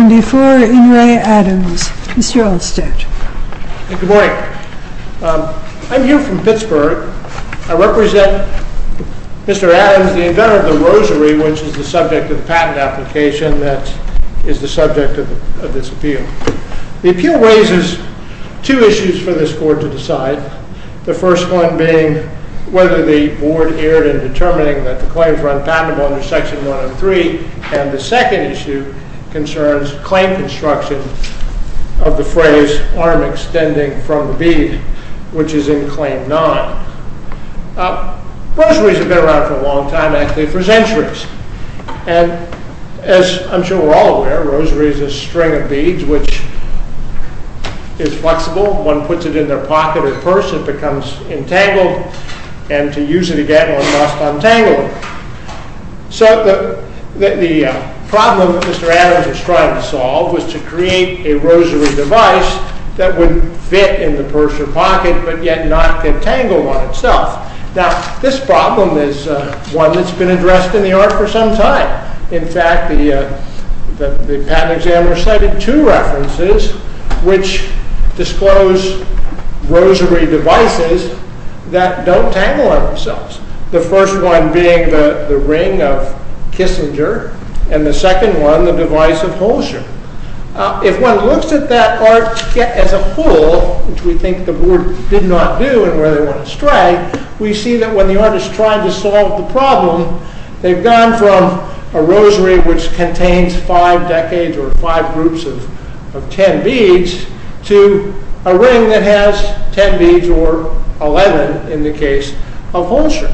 Good morning. I'm here from Pittsburgh. I represent Mr. Adams, the inventor of the Rosary, which is the subject of the patent application that is the subject of this appeal. The appeal raises two issues for this Court to decide, the first one being whether the Board erred in determining that the claims were unpatentable under Section 103, and the second issue concerns claim construction of the phrase arm extending from the bead, which is in Claim 9. Rosaries have been around for a long time, actually for centuries, and as I'm sure we're all aware, a rosary is a string of beads which is flexible. One puts it in their pocket or purse, it becomes entangled, and to use it again one must untangle it. So the problem that Mr. Adams is trying to solve was to create a rosary device that would fit in the purse or pocket, but yet not get tangled on itself. Now this problem is one that's been addressed in the art for some time. In fact, the patent exam recited two references which disclose rosary devices that don't tangle on themselves. The first one being the ring of Kissinger, and the second one the device of Holscher. If one looks at that art as a whole, which we think the Board did not do and where they went astray, we see that when the artist tried to solve the problem, they've gone from a rosary which contains five decades or five groups of ten beads to a ring that has ten beads or eleven in the case of Holscher.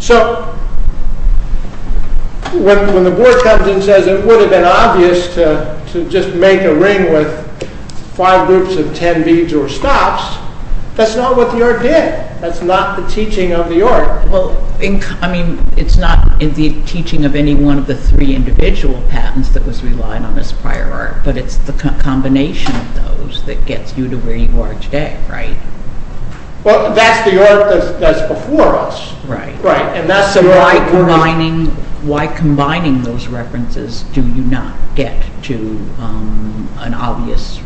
So when the Board comes and says it would have been obvious to just make a ring with five groups of ten beads or stops, that's not what the art did. That's not the teaching of the art. Well, I mean, it's not in the teaching of any one of the three individual patents that was relied on as prior art, but it's the combination of those that gets you to where you are today, right? Well, that's the art that's before us. So why combining those references do you not get to an obvious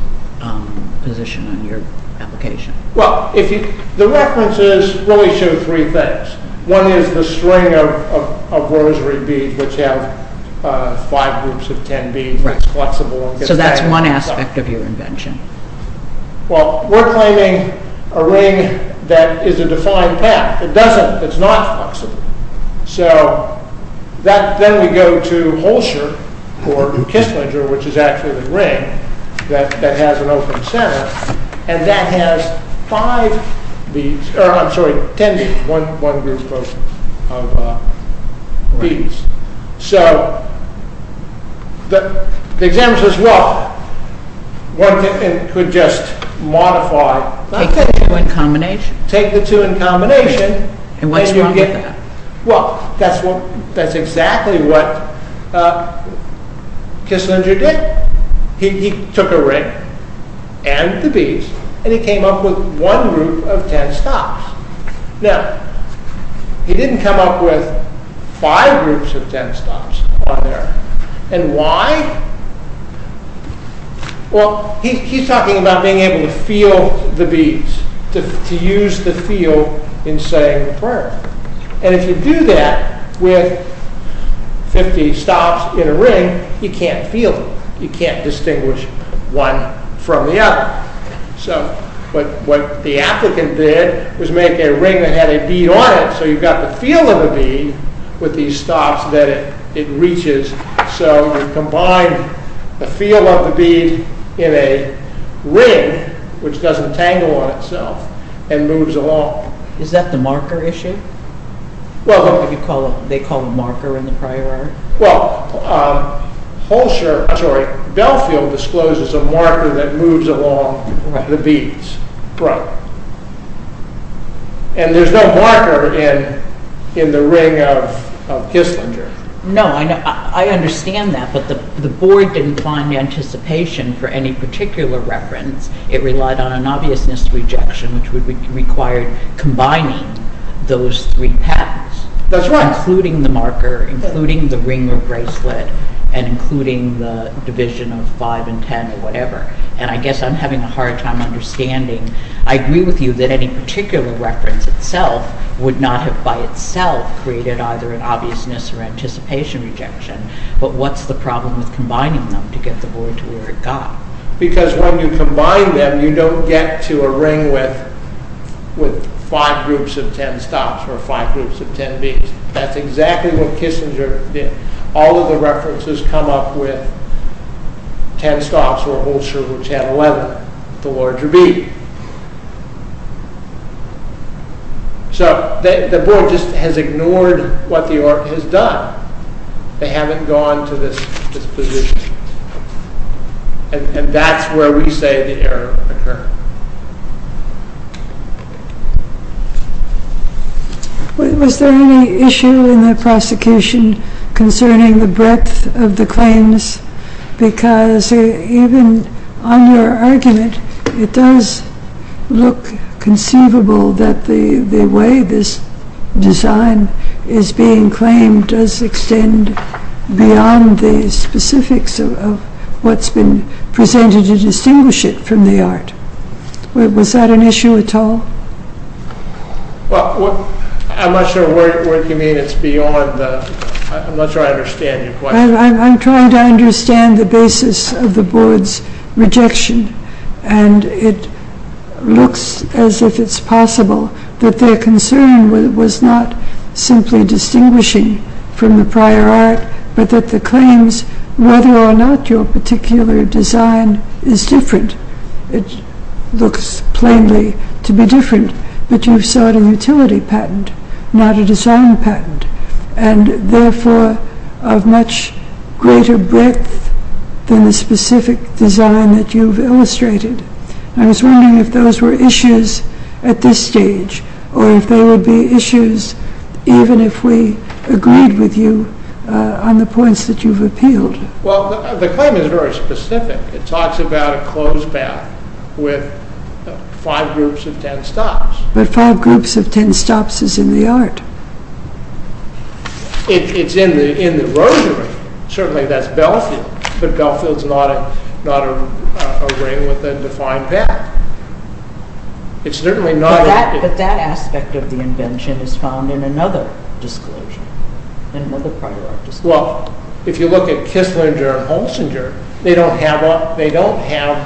position in your application? Well, the references really show three things. One is the string of rosary beads which have five groups of ten beads. So that's one aspect of your invention. Well, we're claiming a ring that is a defined path. It doesn't. It's not flexible. So then we go to Holscher or Kisslinger, which is actually a ring that has an open center and that has five beads, or I'm sorry, ten beads, one group of beads. So the examiner says, well, one could just modify. Take the two in combination? Take the two in combination. And what is wrong with that? Well, that's exactly what Kisslinger did. He took a ring and the beads and he came up with one group of ten stops. Now, he didn't come up with five groups of ten stops on there. And why? Well, he's talking about being able to feel the beads, to use the feel in saying the prayer. And if you do that with 50 stops in a ring, you can't feel them. You can't distinguish one from the other. So what the applicant did was make a ring that had a bead on it, so you've got the feel of a bead with these stops that it reaches. So you combine the feel of the bead in a ring, which doesn't tangle on itself and moves along. Is that the marker issue? They call it a marker in the prior art? Well, Holscher, I'm sorry, Belfield discloses a marker that moves along the beads. And there's no marker in the ring of Kisslinger. No, I understand that, but the board didn't find anticipation for any particular reference. It relied on an obviousness rejection, which would require combining those three patterns. That's right. Including the marker, including the ring or bracelet, and including the division of five and ten or whatever. And I guess I'm having a hard time understanding. I agree with you that any particular reference itself would not have by itself created either an obviousness or anticipation rejection. But what's the problem with combining them to get the board to where it got? Because when you combine them, you don't get to a ring with five groups of ten stops or five groups of ten beads. That's exactly what Kisslinger did. All of the references come up with ten stops or Holscher, which had eleven. The larger bead. So, the board just has ignored what the art has done. They haven't gone to this position. And that's where we say the error occurred. Was there any issue in the prosecution concerning the breadth of the claims? Because even on your argument, it does look conceivable that the way this design is being claimed does extend beyond the specifics of what's been presented to distinguish it from the art. Was that an issue at all? Well, I'm not sure where you mean it's beyond. I'm not sure I understand your question. I'm trying to understand the basis of the board's rejection. And it looks as if it's possible that their concern was not simply distinguishing from the prior art, but that the claims, whether or not your particular design is different, it looks plainly to be different. But you sought a utility patent, not a design patent. And therefore, of much greater breadth than the specific design that you've illustrated. I was wondering if those were issues at this stage, or if they would be issues even if we agreed with you on the points that you've appealed. Well, the claim is very specific. It talks about a closed path with five groups of ten stops. But five groups of ten stops is in the art. It's in the rosary. Certainly that's Belfield. But Belfield's not a ring with a defined path. But that aspect of the invention is found in another disclosure. Well, if you look at Kisslinger and Holsinger, they don't have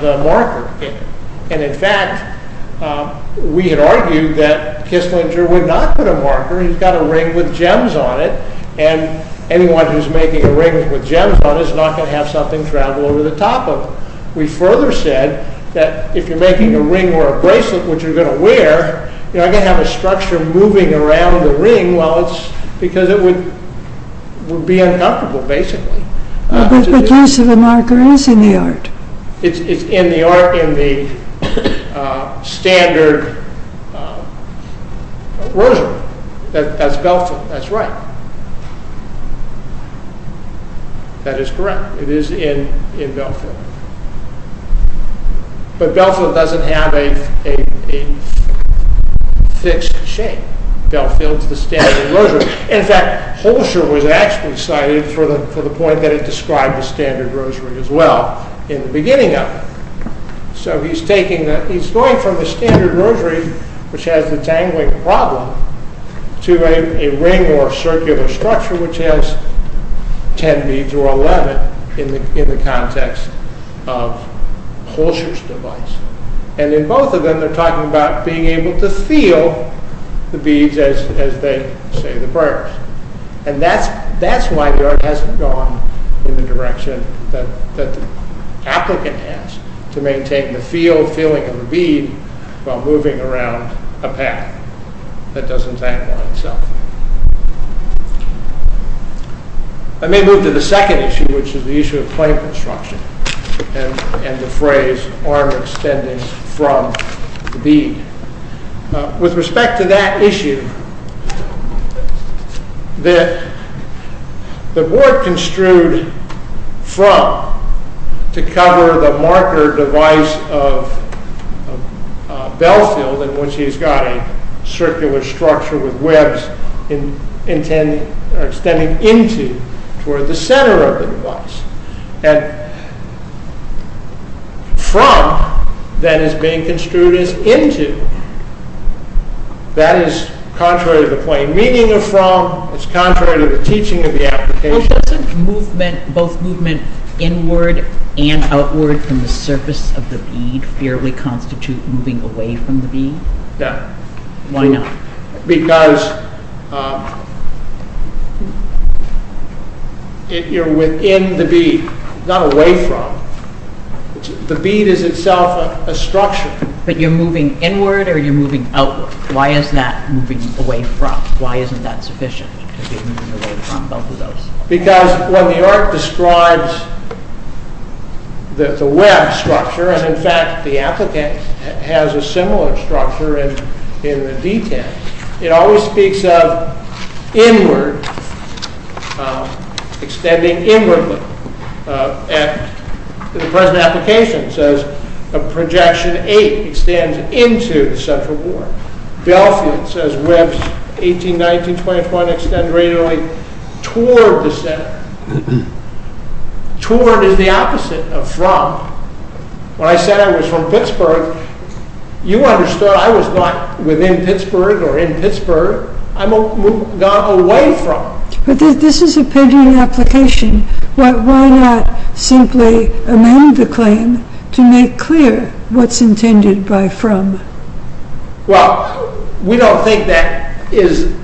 the marker. And in fact, we had argued that Kisslinger would not put a marker. He's got a ring with gems on it. And anyone who's making a ring with gems on it is not going to have something travel over the top of it. We further said that if you're making a ring or a bracelet, which you're going to wear, you're not going to have a structure moving around the ring because it would be uncomfortable, basically. But use of a marker is in the art. It's in the art in the standard rosary. That's Belfield. That's right. That is correct. It is in Belfield. But Belfield doesn't have a fixed shape. Belfield's the standard rosary. In fact, Holsinger was actually cited for the point that it described the standard rosary as well in the beginning of it. So, he's going from the standard rosary, which has the dangling problem, to a ring or circular structure which has ten beads or eleven in the context of Holsinger's device. And in both of them, they're talking about being able to feel the beads as they say the prayers. And that's why the art hasn't gone in the direction that the applicant has, to maintain the feeling of the bead while moving around a path that doesn't hang by itself. I may move to the second issue, which is the issue of plank construction and the phrase arm extending from the bead. With respect to that issue, the board construed from to cover the marker device of Belfield, in which he's got a circular structure with webs extending into toward the center of the device. And from that is being construed as into. That is contrary to the plain meaning of from. It's contrary to the teaching of the application. Doesn't movement, both movement inward and outward from the surface of the bead, fairly constitute moving away from the bead? No. Why not? Because you're within the bead, not away from. The bead is itself a structure. But you're moving inward or you're moving outward? Why is that moving away from? Why isn't that sufficient? Because when the art describes the web structure, and in fact the applicant has a similar structure in the detail, it always speaks of inward, extending inwardly. The present application says a projection 8 extends into the central board. Belfield says webs 18, 19, 20, 21 extend radially toward the center. Toward is the opposite of from. When I said I was from Pittsburgh, you understood I was not within Pittsburgh or in Pittsburgh. I moved away from. But this is a painting application. Why not simply amend the claim to make clear what's intended by from? Well, we don't think that is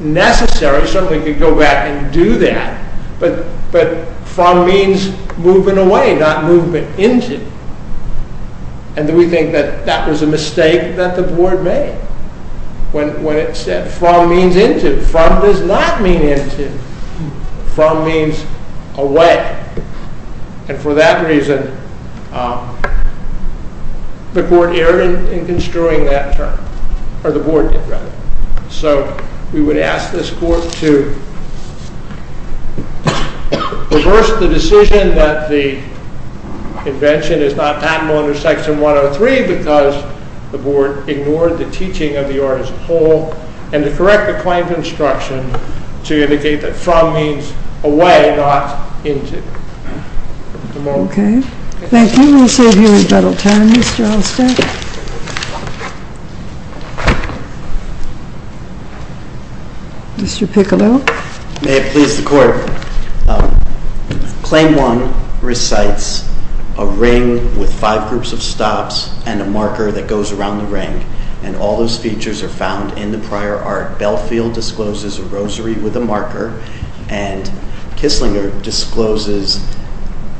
necessary. Somebody could go back and do that. But from means moving away, not movement into. And we think that that was a mistake that the board made. When it said from means into. From does not mean into. From means away. And for that reason, the board erred in construing that term. Or the board did, rather. So we would ask this court to reverse the decision that the invention is not patentable under Section 103 because the board ignored the teaching of the art as a whole and to correct the claims instruction to indicate that from means away, not into. Okay. Thank you. We'll see if he has a little time, Mr. Allstate. Mr. Piccolo. May it please the court. Claim 1 recites a ring with five groups of stops and a marker that goes around the ring. And all those features are found in the prior art. Belfield discloses a rosary with a marker. And Kisslinger discloses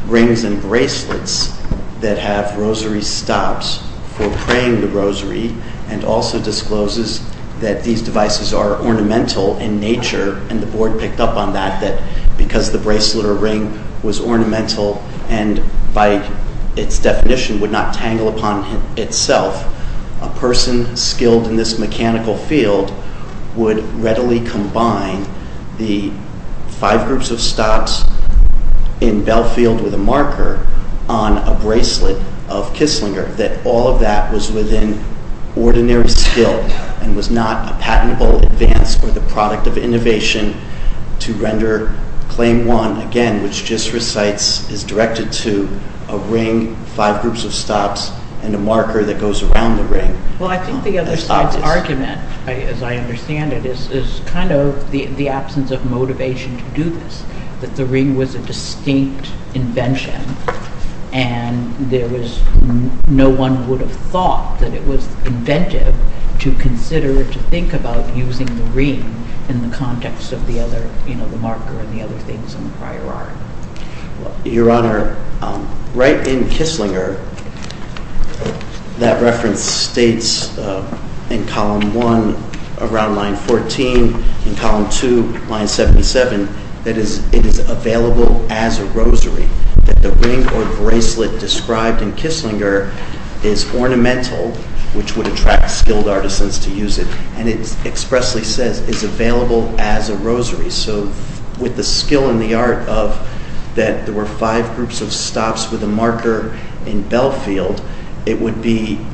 rings and bracelets that have rosary stops for praying the rosary. And also discloses that these devices are ornamental in nature. And the board picked up on that, that because the bracelet or ring was ornamental and by its definition would not tangle upon itself, a person skilled in this mechanical field would readily combine the five groups of stops in Belfield with a marker on a bracelet of Kisslinger. That all of that was within ordinary skill and was not a patentable advance or the product of innovation to render Claim 1, again, which just recites, is directed to a ring, five groups of stops, and a marker that goes around the ring. Well, I think the other side's argument, as I understand it, is kind of the absence of motivation to do this, that the ring was a distinct invention and no one would have thought that it was inventive to consider, or to think about using the ring in the context of the other, you know, the marker and the other things in the prior art. Your Honor, right in Kisslinger, that reference states in Column 1, around line 14, in Column 2, line 77, that it is available as a rosary, that the ring or bracelet described in Kisslinger is ornamental, which would attract skilled artisans to use it, and it expressly says, is available as a rosary. So with the skill and the art of that there were five groups of stops with a marker in Belfield, it would be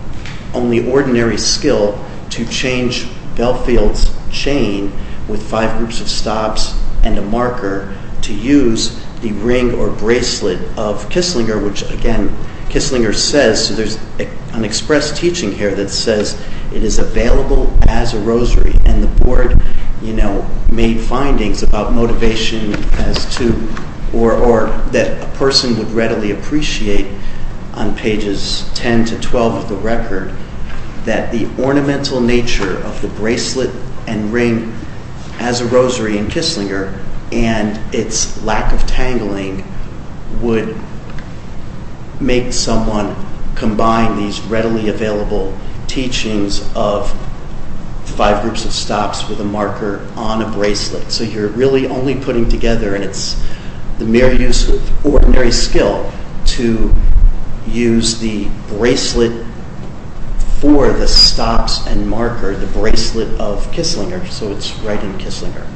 only ordinary skill to change Belfield's chain with five groups of stops and a marker to use the ring or bracelet of Kisslinger, which again, Kisslinger says, so there's an express teaching here that says, it is available as a rosary, and the Board, you know, made findings about motivation as to, or that a person would readily appreciate on pages 10 to 12 of the record, that the ornamental nature of the bracelet and ring as a rosary in Kisslinger and its lack of tangling would make someone combine these readily available teachings of five groups of stops with a marker on a bracelet. So you're really only putting together, and it's the mere use of ordinary skill, to use the bracelet for the stops and marker, the bracelet of Kisslinger, so it's right in Kisslinger.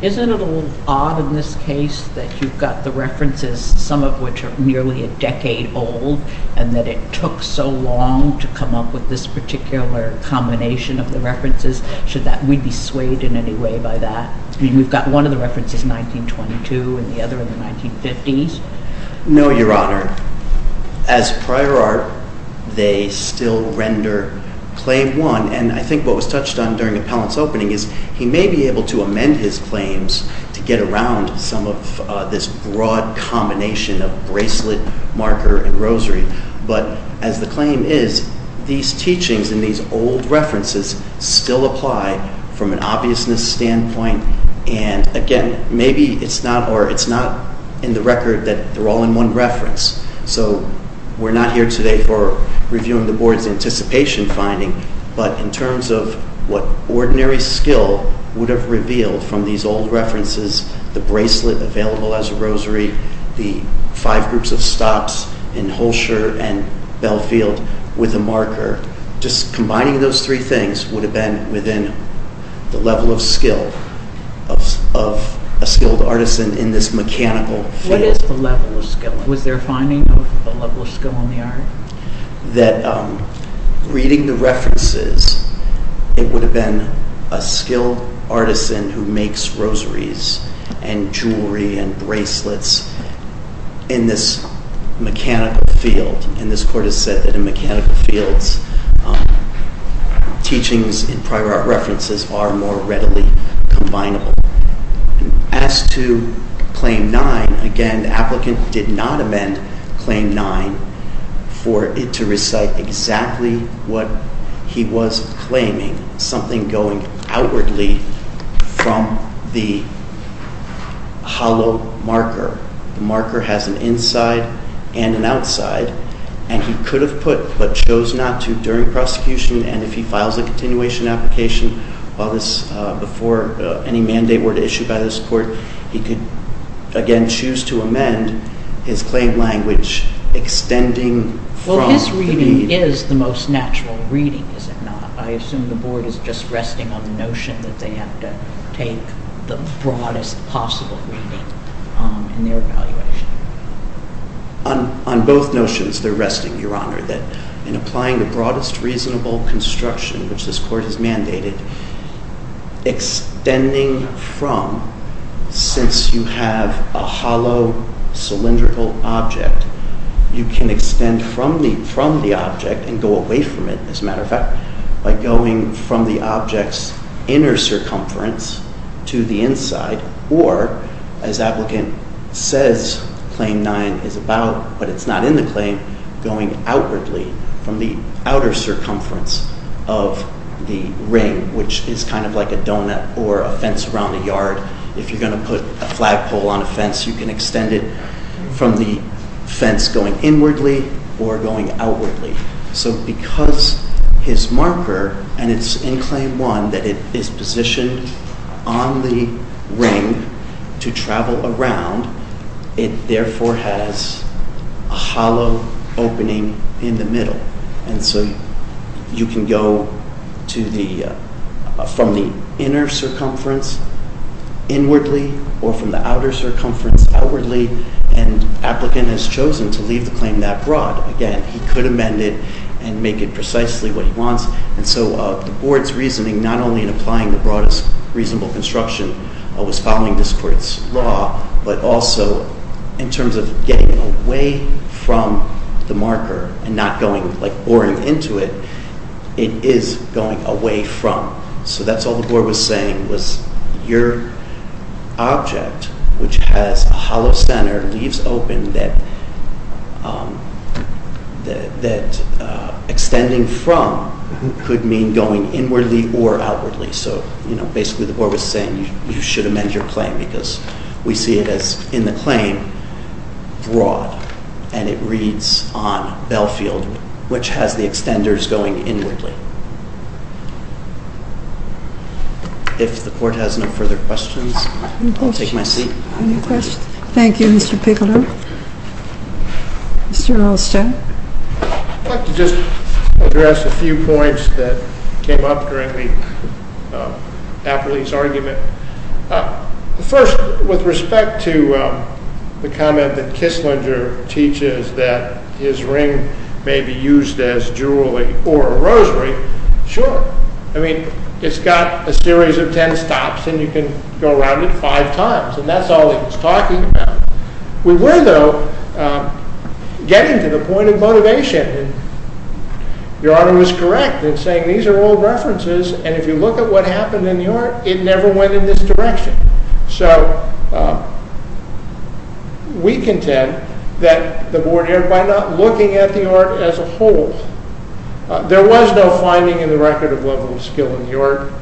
Isn't it a little odd in this case that you've got the references, some of which are nearly a decade old, and that it took so long to come up with this particular combination of the references? Should that, we'd be swayed in any way by that? I mean, we've got one of the references in 1922 and the other in the 1950s? No, Your Honor. As prior art, they still render claim one, and I think what was touched on during the appellant's opening is he may be able to amend his claims to get around some of this broad combination of bracelet, marker, and rosary, but as the claim is, these teachings and these old references still apply from an obviousness standpoint, and again, maybe it's not in the record that they're all in one reference. So we're not here today for reviewing the Board's anticipation finding, but in terms of what ordinary skill would have revealed from these old references, the bracelet available as a rosary, the five groups of stops in Holsher and Belfield with a marker, just combining those three things would have been within the level of skill of a skilled artisan in this mechanical field. What is the level of skill? Was there a finding of a level of skill in the art? That reading the references, it would have been a skilled artisan who makes rosaries and jewelry and bracelets in this mechanical field, and this Court has said that in mechanical fields, teachings and prior art references are more readily combinable. As to claim nine, again, the applicant did not amend claim nine for it to recite exactly what he was claiming, something going outwardly from the hollow marker. The marker has an inside and an outside, and he could have put what chose not to during prosecution, and if he files a continuation application before any mandate were to issue by this Court, he could, again, choose to amend his claim language extending from the need. Well, his reading is the most natural reading, is it not? I assume the Board is just resting on the notion that they have to take the broadest possible reading in their evaluation. On both notions, they're resting, Your Honor, that in applying the broadest reasonable construction which this Court has mandated, extending from, since you have a hollow cylindrical object, you can extend from the object and go away from it, as a matter of fact, by going from the object's inner circumference to the inside, or, as applicant says claim nine is about, but it's not in the claim, going outwardly from the outer circumference of the ring, which is kind of like a donut or a fence around a yard. If you're going to put a flagpole on a fence, you can extend it from the fence going inwardly or going outwardly. So because his marker, and it's in claim one, that it is positioned on the ring to travel around, it therefore has a hollow opening in the middle. And so you can go from the inner circumference inwardly, or from the outer circumference outwardly, and applicant has chosen to leave the claim that broad. Again, he could amend it and make it precisely what he wants. And so the Board's reasoning, not only in applying the broadest reasonable construction, was following this court's law, but also in terms of getting away from the marker and not going like boring into it, it is going away from. So that's all the Board was saying was your object, which has a hollow center, leaves open that extending from could mean going inwardly or outwardly. So basically the Board was saying you should amend your claim because we see it as, in the claim, broad. And it reads on Belfield, which has the extenders going inwardly. If the Court has no further questions, I'll take my seat. Any questions? Thank you, Mr. Piccolo. Mr. Olsten. I'd like to just address a few points that came up during the appellee's argument. First, with respect to the comment that Kisslinger teaches that his ring may be used as jewelry or a rosary, sure. I mean, it's got a series of ten stops, and you can go around it five times, and that's all he was talking about. We were, though, getting to the point of motivation. Your Honor was correct in saying these are all references, and if you look at what happened in the art, it never went in this direction. So we contend that the Board, by not looking at the art as a whole, there was no finding in the record of level of skill in the art.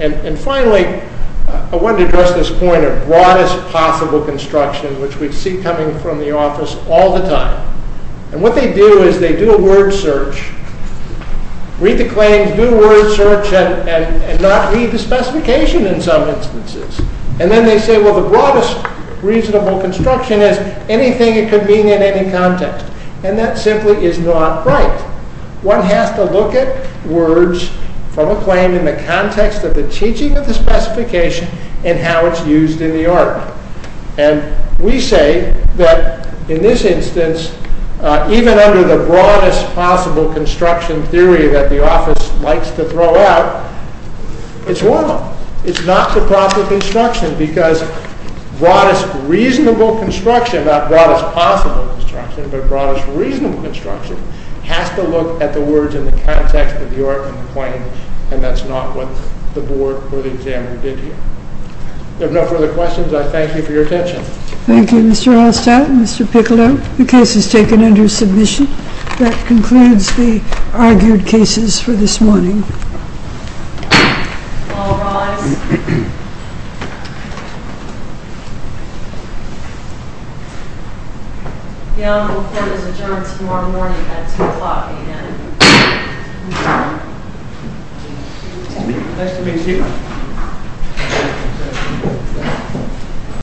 And finally, I wanted to address this point of broadest possible construction, which we see coming from the office all the time. And what they do is they do a word search, read the claims, do a word search, and not read the specification in some instances. And then they say, well, the broadest reasonable construction is anything it could mean in any context. And that simply is not right. One has to look at words from a claim in the context of the teaching of the specification and how it's used in the art. And we say that in this instance, even under the broadest possible construction theory that the office likes to throw out, it's wrong. It's not the broadest possible construction because broadest reasonable construction, not broadest possible construction, but broadest reasonable construction, has to look at the words in the context of the art and the claim, and that's not what the Board or the examiner did here. If no further questions, I thank you for your attention. Thank you, Mr. Hallstatt and Mr. Piccolo. The case is taken under submission. That concludes the argued cases for this morning. All rise. The Honorable Court is adjourned until tomorrow morning at 2 o'clock a.m. Nice to meet you. Thank you.